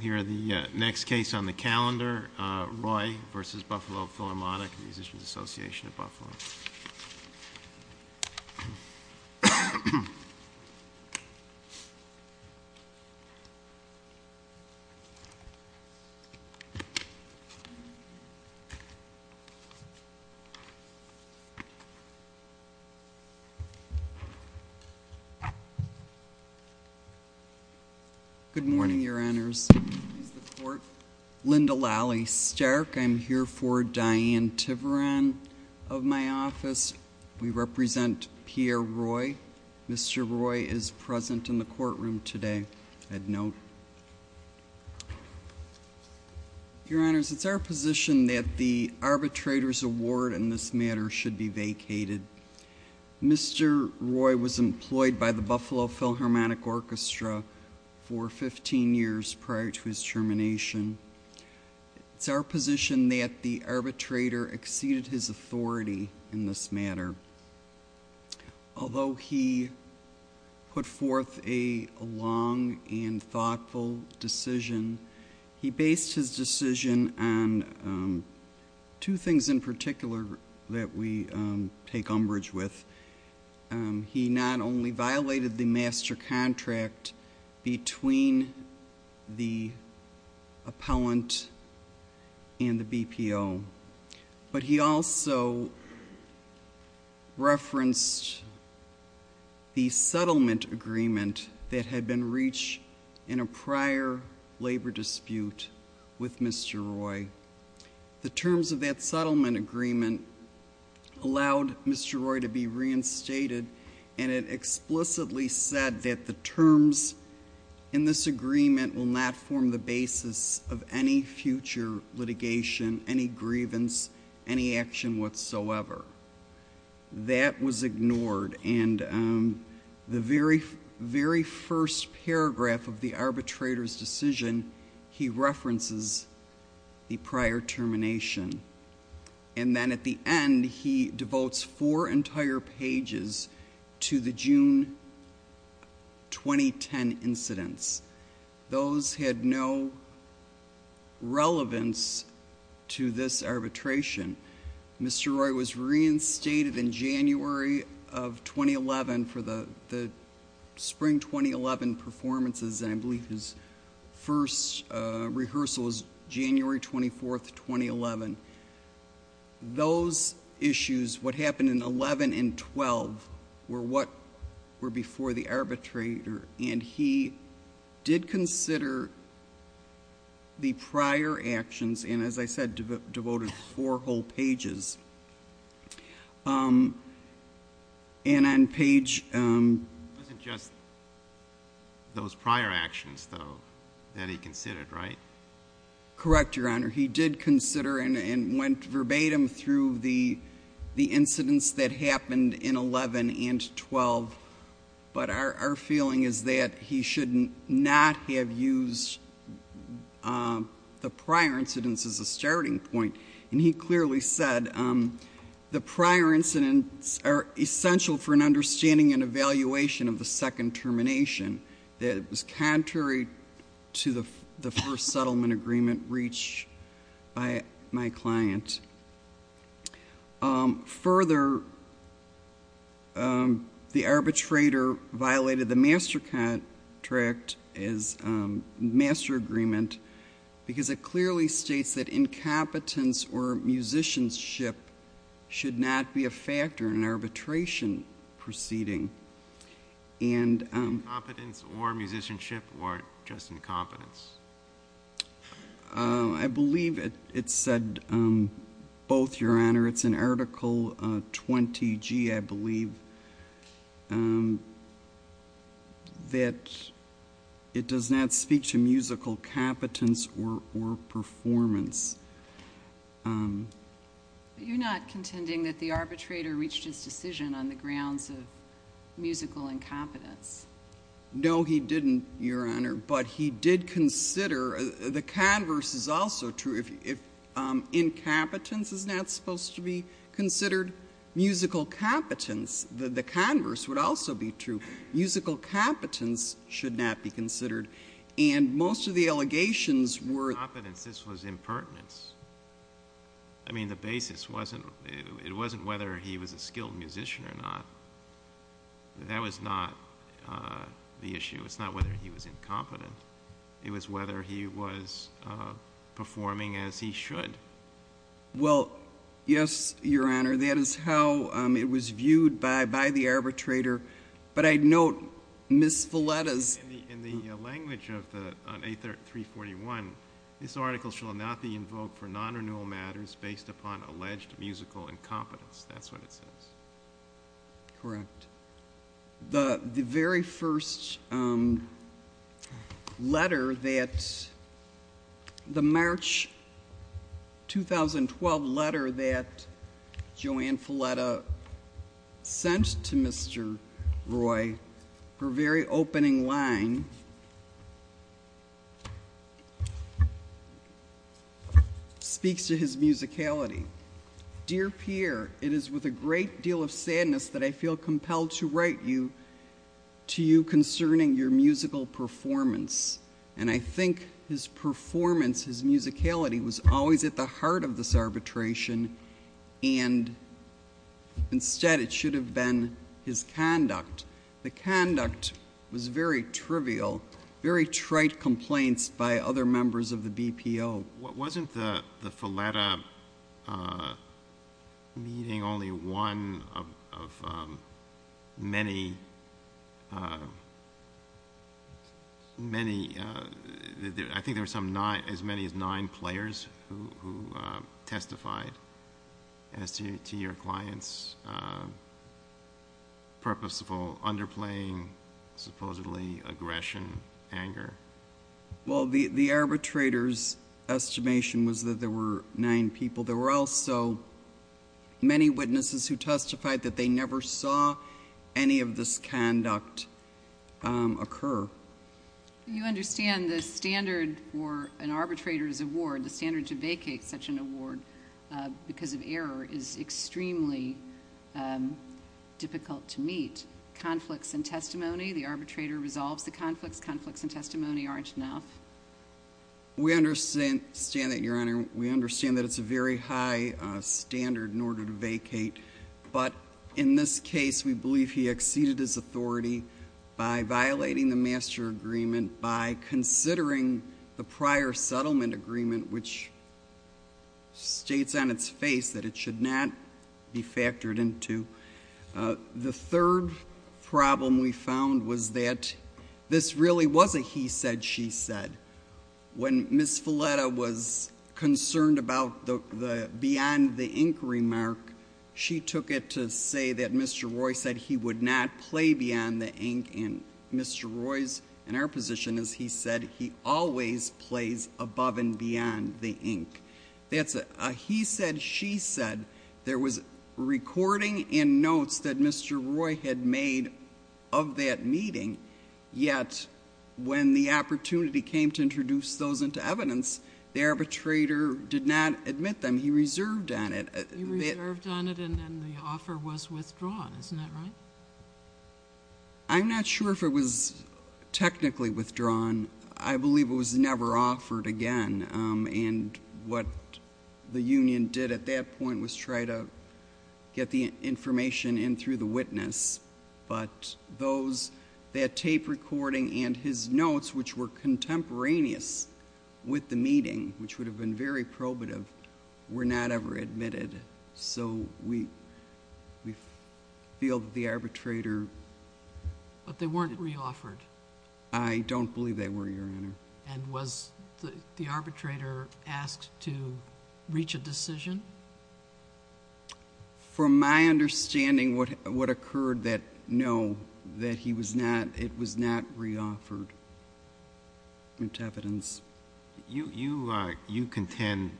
Here are the next case on the calendar, Roy v. Buffalo Philharmonic and the Musicians Association of Buffalo. Good morning, your honors. The court, Linda Lally Stark, I'm here for Diane Tiveron of my office. We represent Pierre Roy. Mr. Roy is present in the courtroom today. I'd note. Your honors, it's our position that the arbitrator's award in this matter should be vacated. Mr. Roy was employed by the Buffalo Philharmonic Orchestra for 15 years prior to his termination. It's our position that the arbitrator exceeded his authority in this matter. Although he put forth a long and thoughtful decision, he based his decision on two things in particular that we take umbrage with. He not only violated the master contract between the appellant and the BPO. But he also referenced the settlement agreement that had been reached in a prior labor dispute with Mr. Roy. The terms of that settlement agreement allowed Mr. Roy to be reinstated. And it explicitly said that the terms in this agreement will not form the basis of any future litigation, any grievance, any action whatsoever. That was ignored and the very, very first paragraph of the arbitrator's decision, he references the prior termination. And then at the end, he devotes four entire pages to the June 2010 incidents. Those had no relevance to this arbitration. Mr. Roy was reinstated in January of 2011 for the spring 2011 performances. And I believe his first rehearsal was January 24th, 2011. Those issues, what happened in 11 and 12, were what were before the arbitrator. And he did consider the prior actions, and as I said, devoted four whole pages. And on page- It wasn't just those prior actions, though, that he considered, right? Correct, Your Honor. He did consider and went verbatim through the incidents that happened in 11 and 12. But our feeling is that he should not have used the prior incidents as a starting point. And he clearly said, the prior incidents are essential for an understanding and evaluation of the second termination. That it was contrary to the first settlement agreement reached by my client. Further, the arbitrator violated the master contract as master agreement, because it clearly states that incompetence or musicianship should not be a factor in arbitration proceeding. And- Incompetence or musicianship or just incompetence? I believe it said both, Your Honor. It's in Article 20G, I believe, that it does not speak to musical competence or performance. You're not contending that the arbitrator reached his decision on the grounds of musical incompetence? No, he didn't, Your Honor. But he did consider, the converse is also true. If incompetence is not supposed to be considered musical competence, the converse would also be true. Musical competence should not be considered. And most of the allegations were- Incompetence, this was impertinence. I mean, the basis wasn't, it wasn't whether he was a skilled musician or not. That was not the issue. It's not whether he was incompetent. It was whether he was performing as he should. Well, yes, Your Honor. That is how it was viewed by the arbitrator. But I'd note Ms. Villetta's- In the language of the, on A341, this article shall not be invoked for non-renewal matters based upon alleged musical incompetence. That's what it says. Correct. The very first letter that, the March 2012 letter that Joanne Fuletta sent to Mr. Roy, her very opening line, speaks to his musicality. Dear Pierre, it is with a great deal of sadness that I feel compelled to write you, to you concerning your musical performance. And I think his performance, his musicality, was always at the heart of this arbitration. And instead, it should have been his conduct. The conduct was very trivial, very trite complaints by other members of the BPO. Wasn't the Fuletta meeting only one of many, I think there were some nine, as many as nine players who testified as to your client's purposeful underplaying, supposedly, aggression, anger? Well, the arbitrator's estimation was that there were nine people. There were also many witnesses who testified that they never saw any of this conduct occur. You understand the standard for an arbitrator's award, the standard to vacate such an award because of error is extremely difficult to meet. Conflicts in testimony, the arbitrator resolves the conflicts. Conflicts in testimony aren't enough. We understand that, Your Honor. We understand that it's a very high standard in order to vacate. But in this case, we believe he exceeded his authority by violating the master agreement, by considering the prior settlement agreement, which states on its face that it should not be factored into. The third problem we found was that this really was a he said, she said. When Ms. Fuletta was concerned about the beyond the ink remark, she took it to say that Mr. Roy said he would not play beyond the ink. And Mr. Roy's, in our position, as he said, he always plays above and beyond the ink. That's a he said, she said. There was recording in notes that Mr. Roy had made of that meeting. Yet, when the opportunity came to introduce those into evidence, the arbitrator did not admit them. He reserved on it. He reserved on it, and then the offer was withdrawn. Isn't that right? I'm not sure if it was technically withdrawn. I believe it was never offered again. And what the union did at that point was try to get the information in through the witness. But those, that tape recording and his notes, which were contemporaneous with the meeting, which would have been very probative, were not ever admitted. So we feel that the arbitrator- But they weren't re-offered. I don't believe they were, Your Honor. And was the arbitrator asked to reach a decision? From my understanding, what occurred that no, that he was not, it was not re-offered into evidence. You contend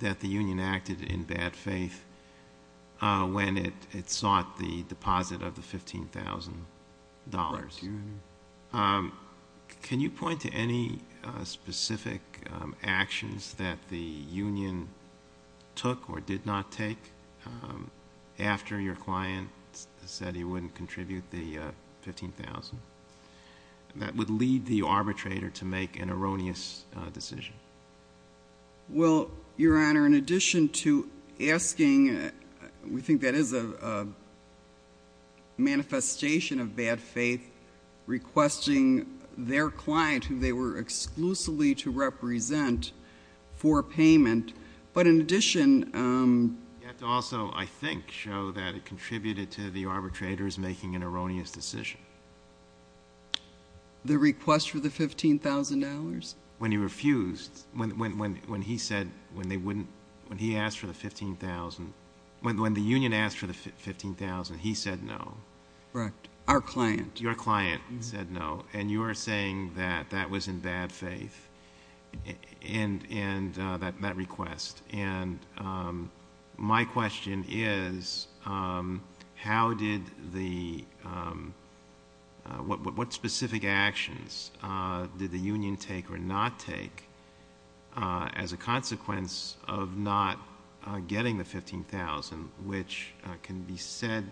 that the union acted in bad faith when it sought the deposit of the $15,000. Can you point to any specific actions that the union took or did not take after your client said he wouldn't contribute the $15,000? That would lead the arbitrator to make an erroneous decision. Well, Your Honor, in addition to asking, we think that is a manifestation of bad faith. Requesting their client, who they were exclusively to represent, for payment. But in addition- You have to also, I think, show that it contributed to the arbitrator's making an erroneous decision. The request for the $15,000? When he refused, when he asked for the $15,000, when the union asked for the $15,000, he said no. Correct, our client. Your client said no, and you are saying that that was in bad faith, and that request. And my question is, what specific actions did the union take or not take as a consequence of not getting the $15,000, which can be said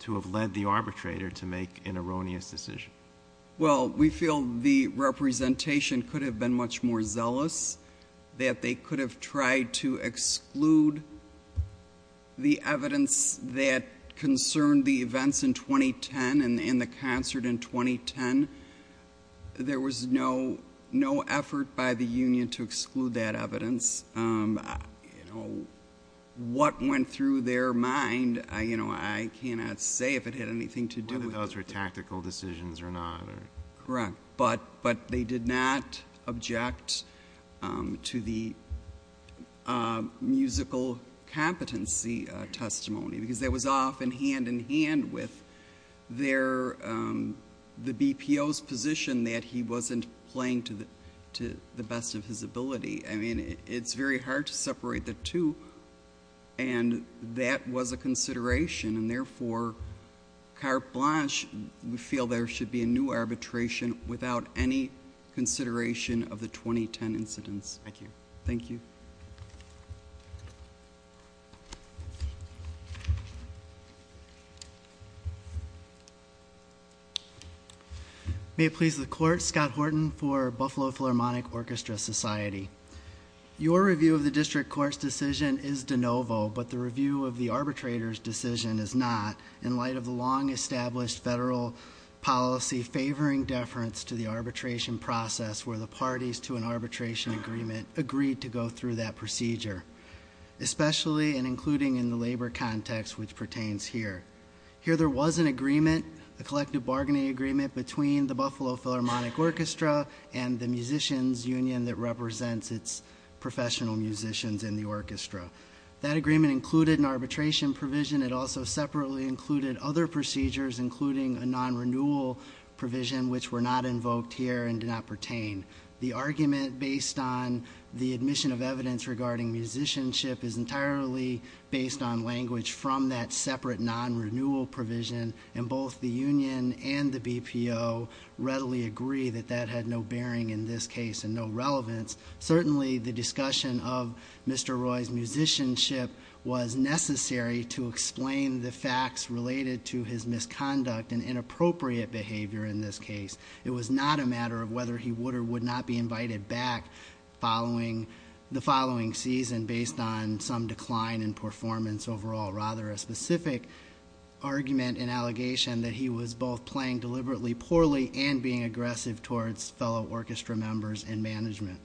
to have led the arbitrator to make an erroneous decision? Well, we feel the representation could have been much more zealous, that they could have tried to exclude the evidence that concerned the events in 2010 and the concert in 2010. There was no effort by the union to exclude that evidence. What went through their mind, I cannot say if it had anything to do with- Whether those were tactical decisions or not. Correct, but they did not object to the musical competency testimony, because that was off hand in hand with the BPO's position that he wasn't playing to the best of his ability. I mean, it's very hard to separate the two, and that was a consideration. And therefore, Carte Blanche, we feel there should be a new arbitration without any consideration of the 2010 incidents. Thank you. Thank you. May it please the court, Scott Horton for Buffalo Philharmonic Orchestra Society. Your review of the district court's decision is de novo, but the review of the arbitrator's decision is not, in light of the long established federal policy favoring deference to the arbitration process, where the parties to an arbitration agreement agreed to go through that procedure. Especially and including in the labor context which pertains here. Here there was an agreement, a collective bargaining agreement between the Buffalo Philharmonic Orchestra and the musicians union that represents its professional musicians in the orchestra. That agreement included an arbitration provision. It also separately included other procedures including a non-renewal provision which were not invoked here and did not pertain. The argument based on the admission of evidence regarding musicianship is entirely based on language from that separate non-renewal provision. And both the union and the BPO readily agree that that had no bearing in this case and no relevance. Certainly the discussion of Mr. Roy's musicianship was necessary to explain the facts related to his misconduct and inappropriate behavior in this case. It was not a matter of whether he would or would not be invited back the following season based on some decline in performance overall. Rather a specific argument and allegation that he was both playing deliberately poorly and being aggressive towards fellow orchestra members and management.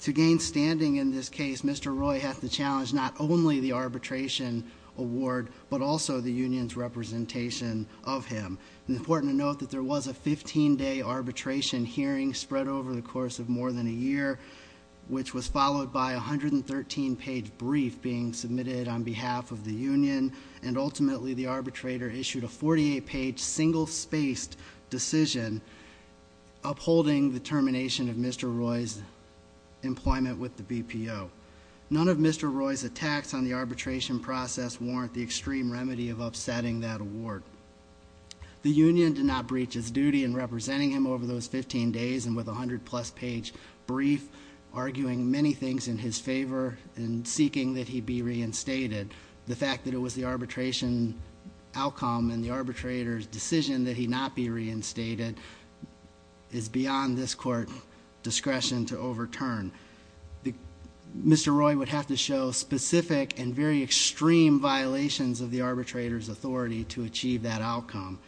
To gain standing in this case, Mr. Roy had to challenge not only the arbitration award, but also the union's representation of him. Important to note that there was a 15 day arbitration hearing spread over the course of more than a year, which was followed by a 113 page brief being submitted on behalf of the union. And ultimately the arbitrator issued a 48 page single spaced decision upholding the termination of Mr. Roy's employment with the BPO. None of Mr. Roy's attacks on the arbitration process warrant the extreme remedy of upsetting that award. The union did not breach its duty in representing him over those 15 days and with a 100 plus page brief arguing many things in his favor and seeking that he be reinstated. The fact that it was the arbitration outcome and the arbitrator's decision that he not be reinstated is beyond this court discretion to overturn. Mr. Roy would have to show specific and very extreme violations of the arbitrator's authority to achieve that outcome.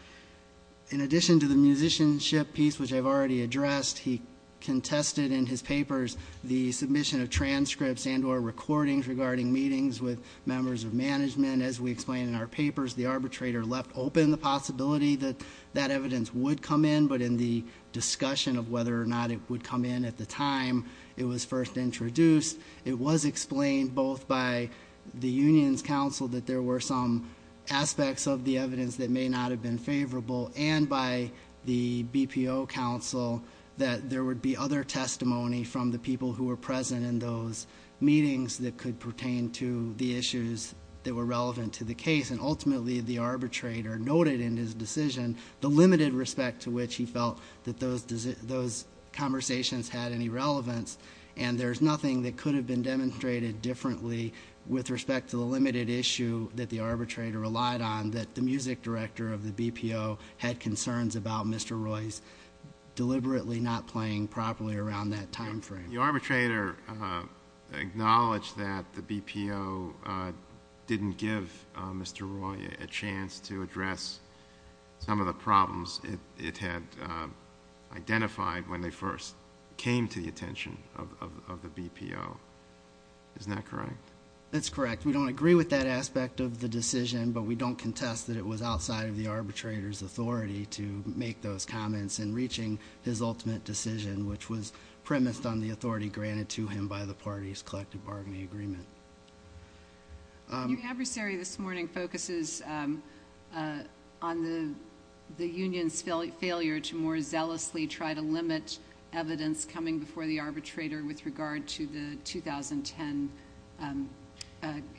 In addition to the musicianship piece, which I've already addressed, he contested in his papers the submission of transcripts and or recordings regarding meetings with members of management. As we explained in our papers, the arbitrator left open the possibility that that evidence would come in. But in the discussion of whether or not it would come in at the time it was first introduced, it was explained both by the union's counsel that there were some aspects of the evidence that may not have been favorable. And by the BPO counsel that there would be other testimony from the people who were present in those meetings that could pertain to the issues that were relevant to the case. And ultimately, the arbitrator noted in his decision the limited respect to which he felt that those conversations had any relevance. And there's nothing that could have been demonstrated differently with respect to the limited issue that the arbitrator relied on. That the music director of the BPO had concerns about Mr. Roy's deliberately not playing properly around that time frame. The arbitrator acknowledged that the BPO didn't give Mr. Roy a chance to address some of the problems it had identified when they first came to the attention of the BPO. Isn't that correct? That's correct. We don't agree with that aspect of the decision, but we don't contest that it was outside of the arbitrator's authority to make those comments. And reaching his ultimate decision, which was premised on the authority granted to him by the party's collective bargaining agreement. Your adversary this morning focuses on the union's failure to more zealously try to limit evidence coming before the arbitrator with regard to the 2010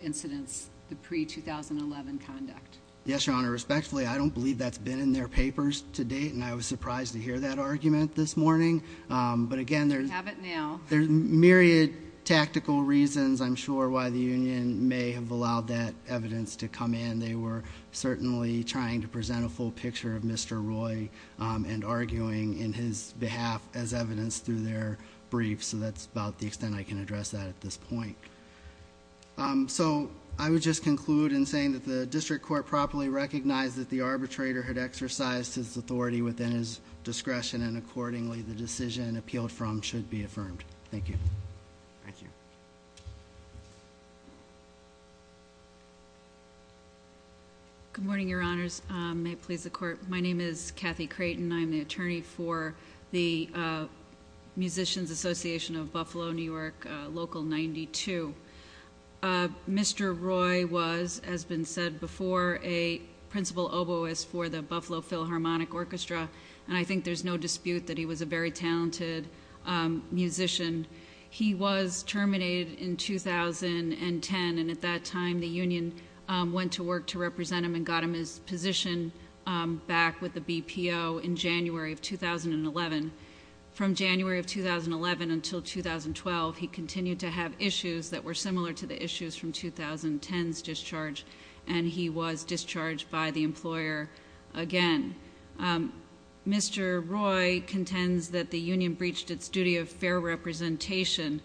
incidents, the pre-2011 conduct. Yes, Your Honor, respectfully, I don't believe that's been in their papers to date, and I was surprised to hear that argument this morning. But again, there's- Have it now. There's myriad tactical reasons, I'm sure, why the union may have allowed that evidence to come in. And they were certainly trying to present a full picture of Mr. Roy and arguing in his behalf as evidence through their briefs, so that's about the extent I can address that at this point. So, I would just conclude in saying that the district court properly recognized that the arbitrator had exercised his authority within his discretion. And accordingly, the decision appealed from should be affirmed. Thank you. Thank you. Good morning, Your Honors. May it please the court. My name is Kathy Creighton. I'm the attorney for the Musicians Association of Buffalo, New York, Local 92. Mr. Roy was, as been said before, a principal oboist for the Buffalo Philharmonic Orchestra, and I think there's no dispute that he was a very talented musician. He was terminated in 2010, and at that time, the union went to work to represent him and got him his position back with the BPO in January of 2011. From January of 2011 until 2012, he continued to have issues that were similar to the issues from 2010's discharge. And he was discharged by the employer again. Mr. Roy contends that the union breached its duty of fair representation.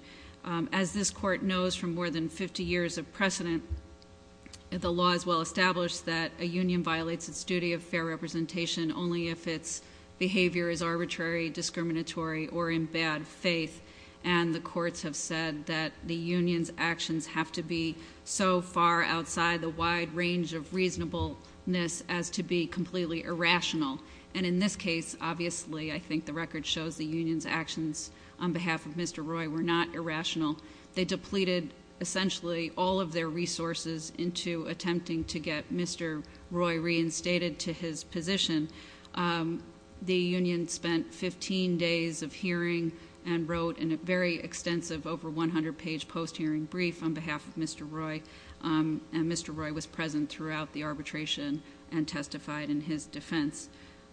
As this court knows from more than 50 years of precedent, the law is well established that a union violates its duty of fair representation only if its behavior is arbitrary, discriminatory, or in bad faith. And the courts have said that the union's actions have to be so far outside the wide range of reasonableness as to be completely irrational. And in this case, obviously, I think the record shows the union's actions on behalf of Mr. Roy were not irrational. They depleted essentially all of their resources into attempting to get Mr. Roy reinstated to his position. The union spent 15 days of hearing and wrote a very extensive over 100 page post hearing brief on behalf of Mr. Roy. And Mr. Roy was present throughout the arbitration and testified in his defense.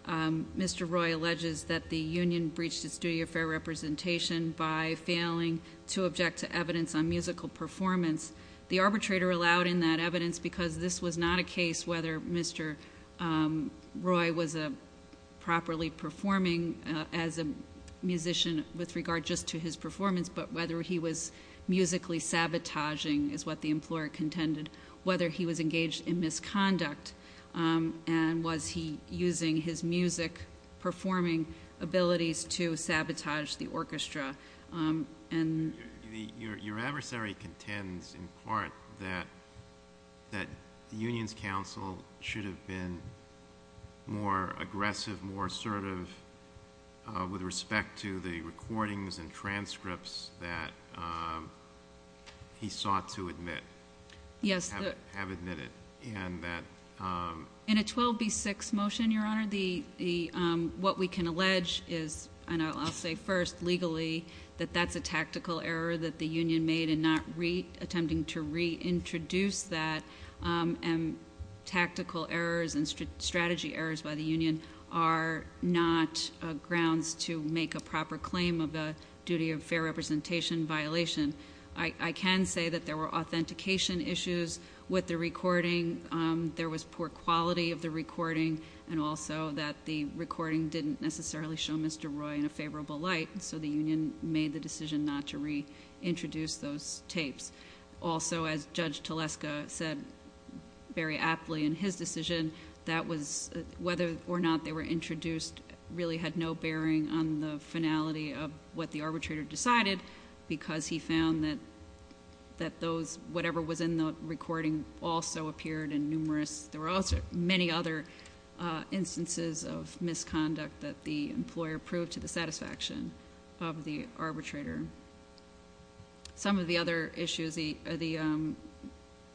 Mr. Roy alleges that the union breached its duty of fair representation by failing to object to evidence on musical performance. The arbitrator allowed in that evidence because this was not a case whether Mr. Roy was performing as a musician with regard just to his performance, but whether he was musically sabotaging is what the employer contended. Whether he was engaged in misconduct, and was he using his music performing abilities to sabotage the orchestra. And- Your adversary contends in part that the union's counsel should have been more aggressive, more assertive with respect to the recordings and transcripts that he sought to admit. Yes. Have admitted, and that- In a 12B6 motion, your honor, what we can allege is, and I'll say first, legally, that that's a tactical error that the union made in not attempting to reintroduce that. And tactical errors and strategy errors by the union are not grounds to make a proper claim of a duty of fair representation violation. I can say that there were authentication issues with the recording. There was poor quality of the recording, and also that the recording didn't necessarily show Mr. Roy in a favorable light. So the union made the decision not to reintroduce those tapes. Also, as Judge Teleska said very aptly in his decision, that was whether or not they were introduced really had no bearing on the finality of what the arbitrator decided. Because he found that whatever was in the recording also appeared in numerous, there were also many other instances of misconduct that the employer proved to the satisfaction of the arbitrator. Some of the other issues, it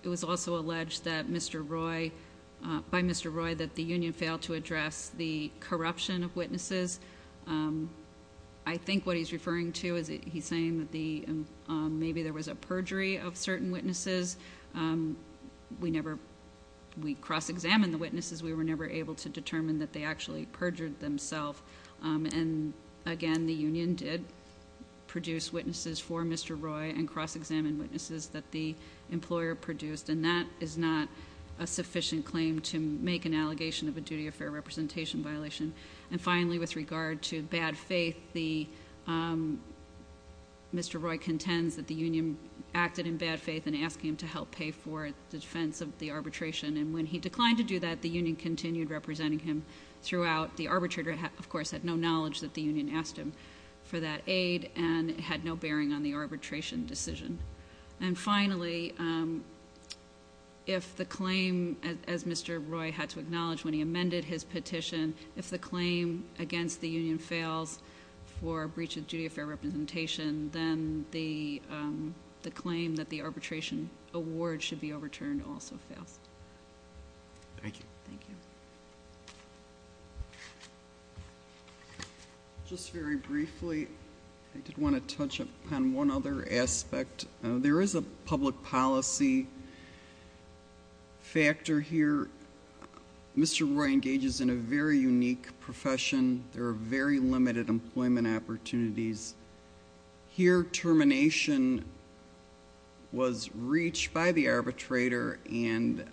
was also alleged that Mr. Roy, by Mr. Roy, that the union failed to address the corruption of witnesses. I think what he's referring to is he's saying that maybe there was a perjury of certain witnesses. We never, we cross-examined the witnesses. We were never able to determine that they actually perjured themselves. And again, the union did produce witnesses for Mr. Roy and cross-examined witnesses that the employer produced. And that is not a sufficient claim to make an allegation of a duty of fair representation violation. And finally, with regard to bad faith, Mr. Roy contends that the union acted in bad faith in asking him to help pay for the defense of the arbitration. And when he declined to do that, the union continued representing him throughout. The arbitrator, of course, had no knowledge that the union asked him for that aid and had no bearing on the arbitration decision. And finally, if the claim, as Mr. Roy had to acknowledge when he amended his petition, if the claim against the union fails for breach of duty of fair representation, then the claim that the arbitration award should be overturned also fails. Thank you. Thank you. Just very briefly, I did want to touch upon one other aspect. There is a public policy factor here. Mr. Roy engages in a very unique profession. There are very limited employment opportunities. Here, termination was reached by the arbitrator and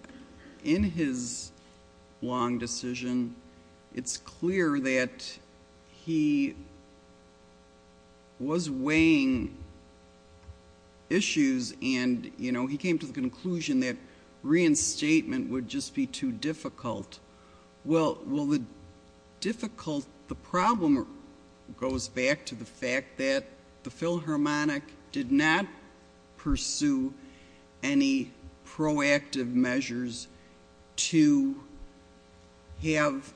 in his long decision, it's clear that he was weighing issues and he came to the conclusion that reinstatement would just be too difficult. Well, the difficult, the problem goes back to the fact that the Philharmonic did not pursue any proactive measures to have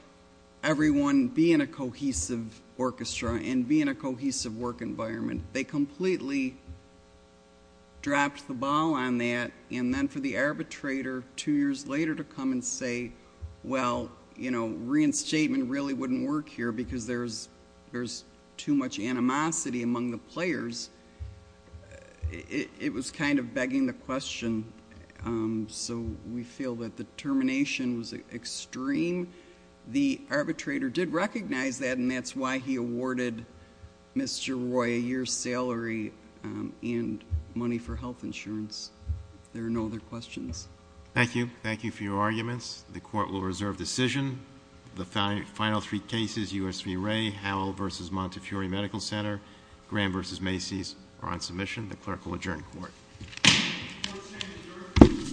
everyone be in a cohesive orchestra and be in a cohesive work environment. They completely dropped the ball on that, and then for the arbitrator, two years later, to come and say, well, reinstatement really wouldn't work here because there's too much animosity among the players. It was kind of begging the question, so we feel that the termination was extreme. The arbitrator did recognize that, and that's why he awarded Mr. Roy a year's salary and money for health insurance. There are no other questions. Thank you. Thank you for your arguments. The court will reserve decision. The final three cases, USV Ray, Howell versus Montefiore Medical Center, Graham versus Macy's are on submission. The clerk will adjourn the court.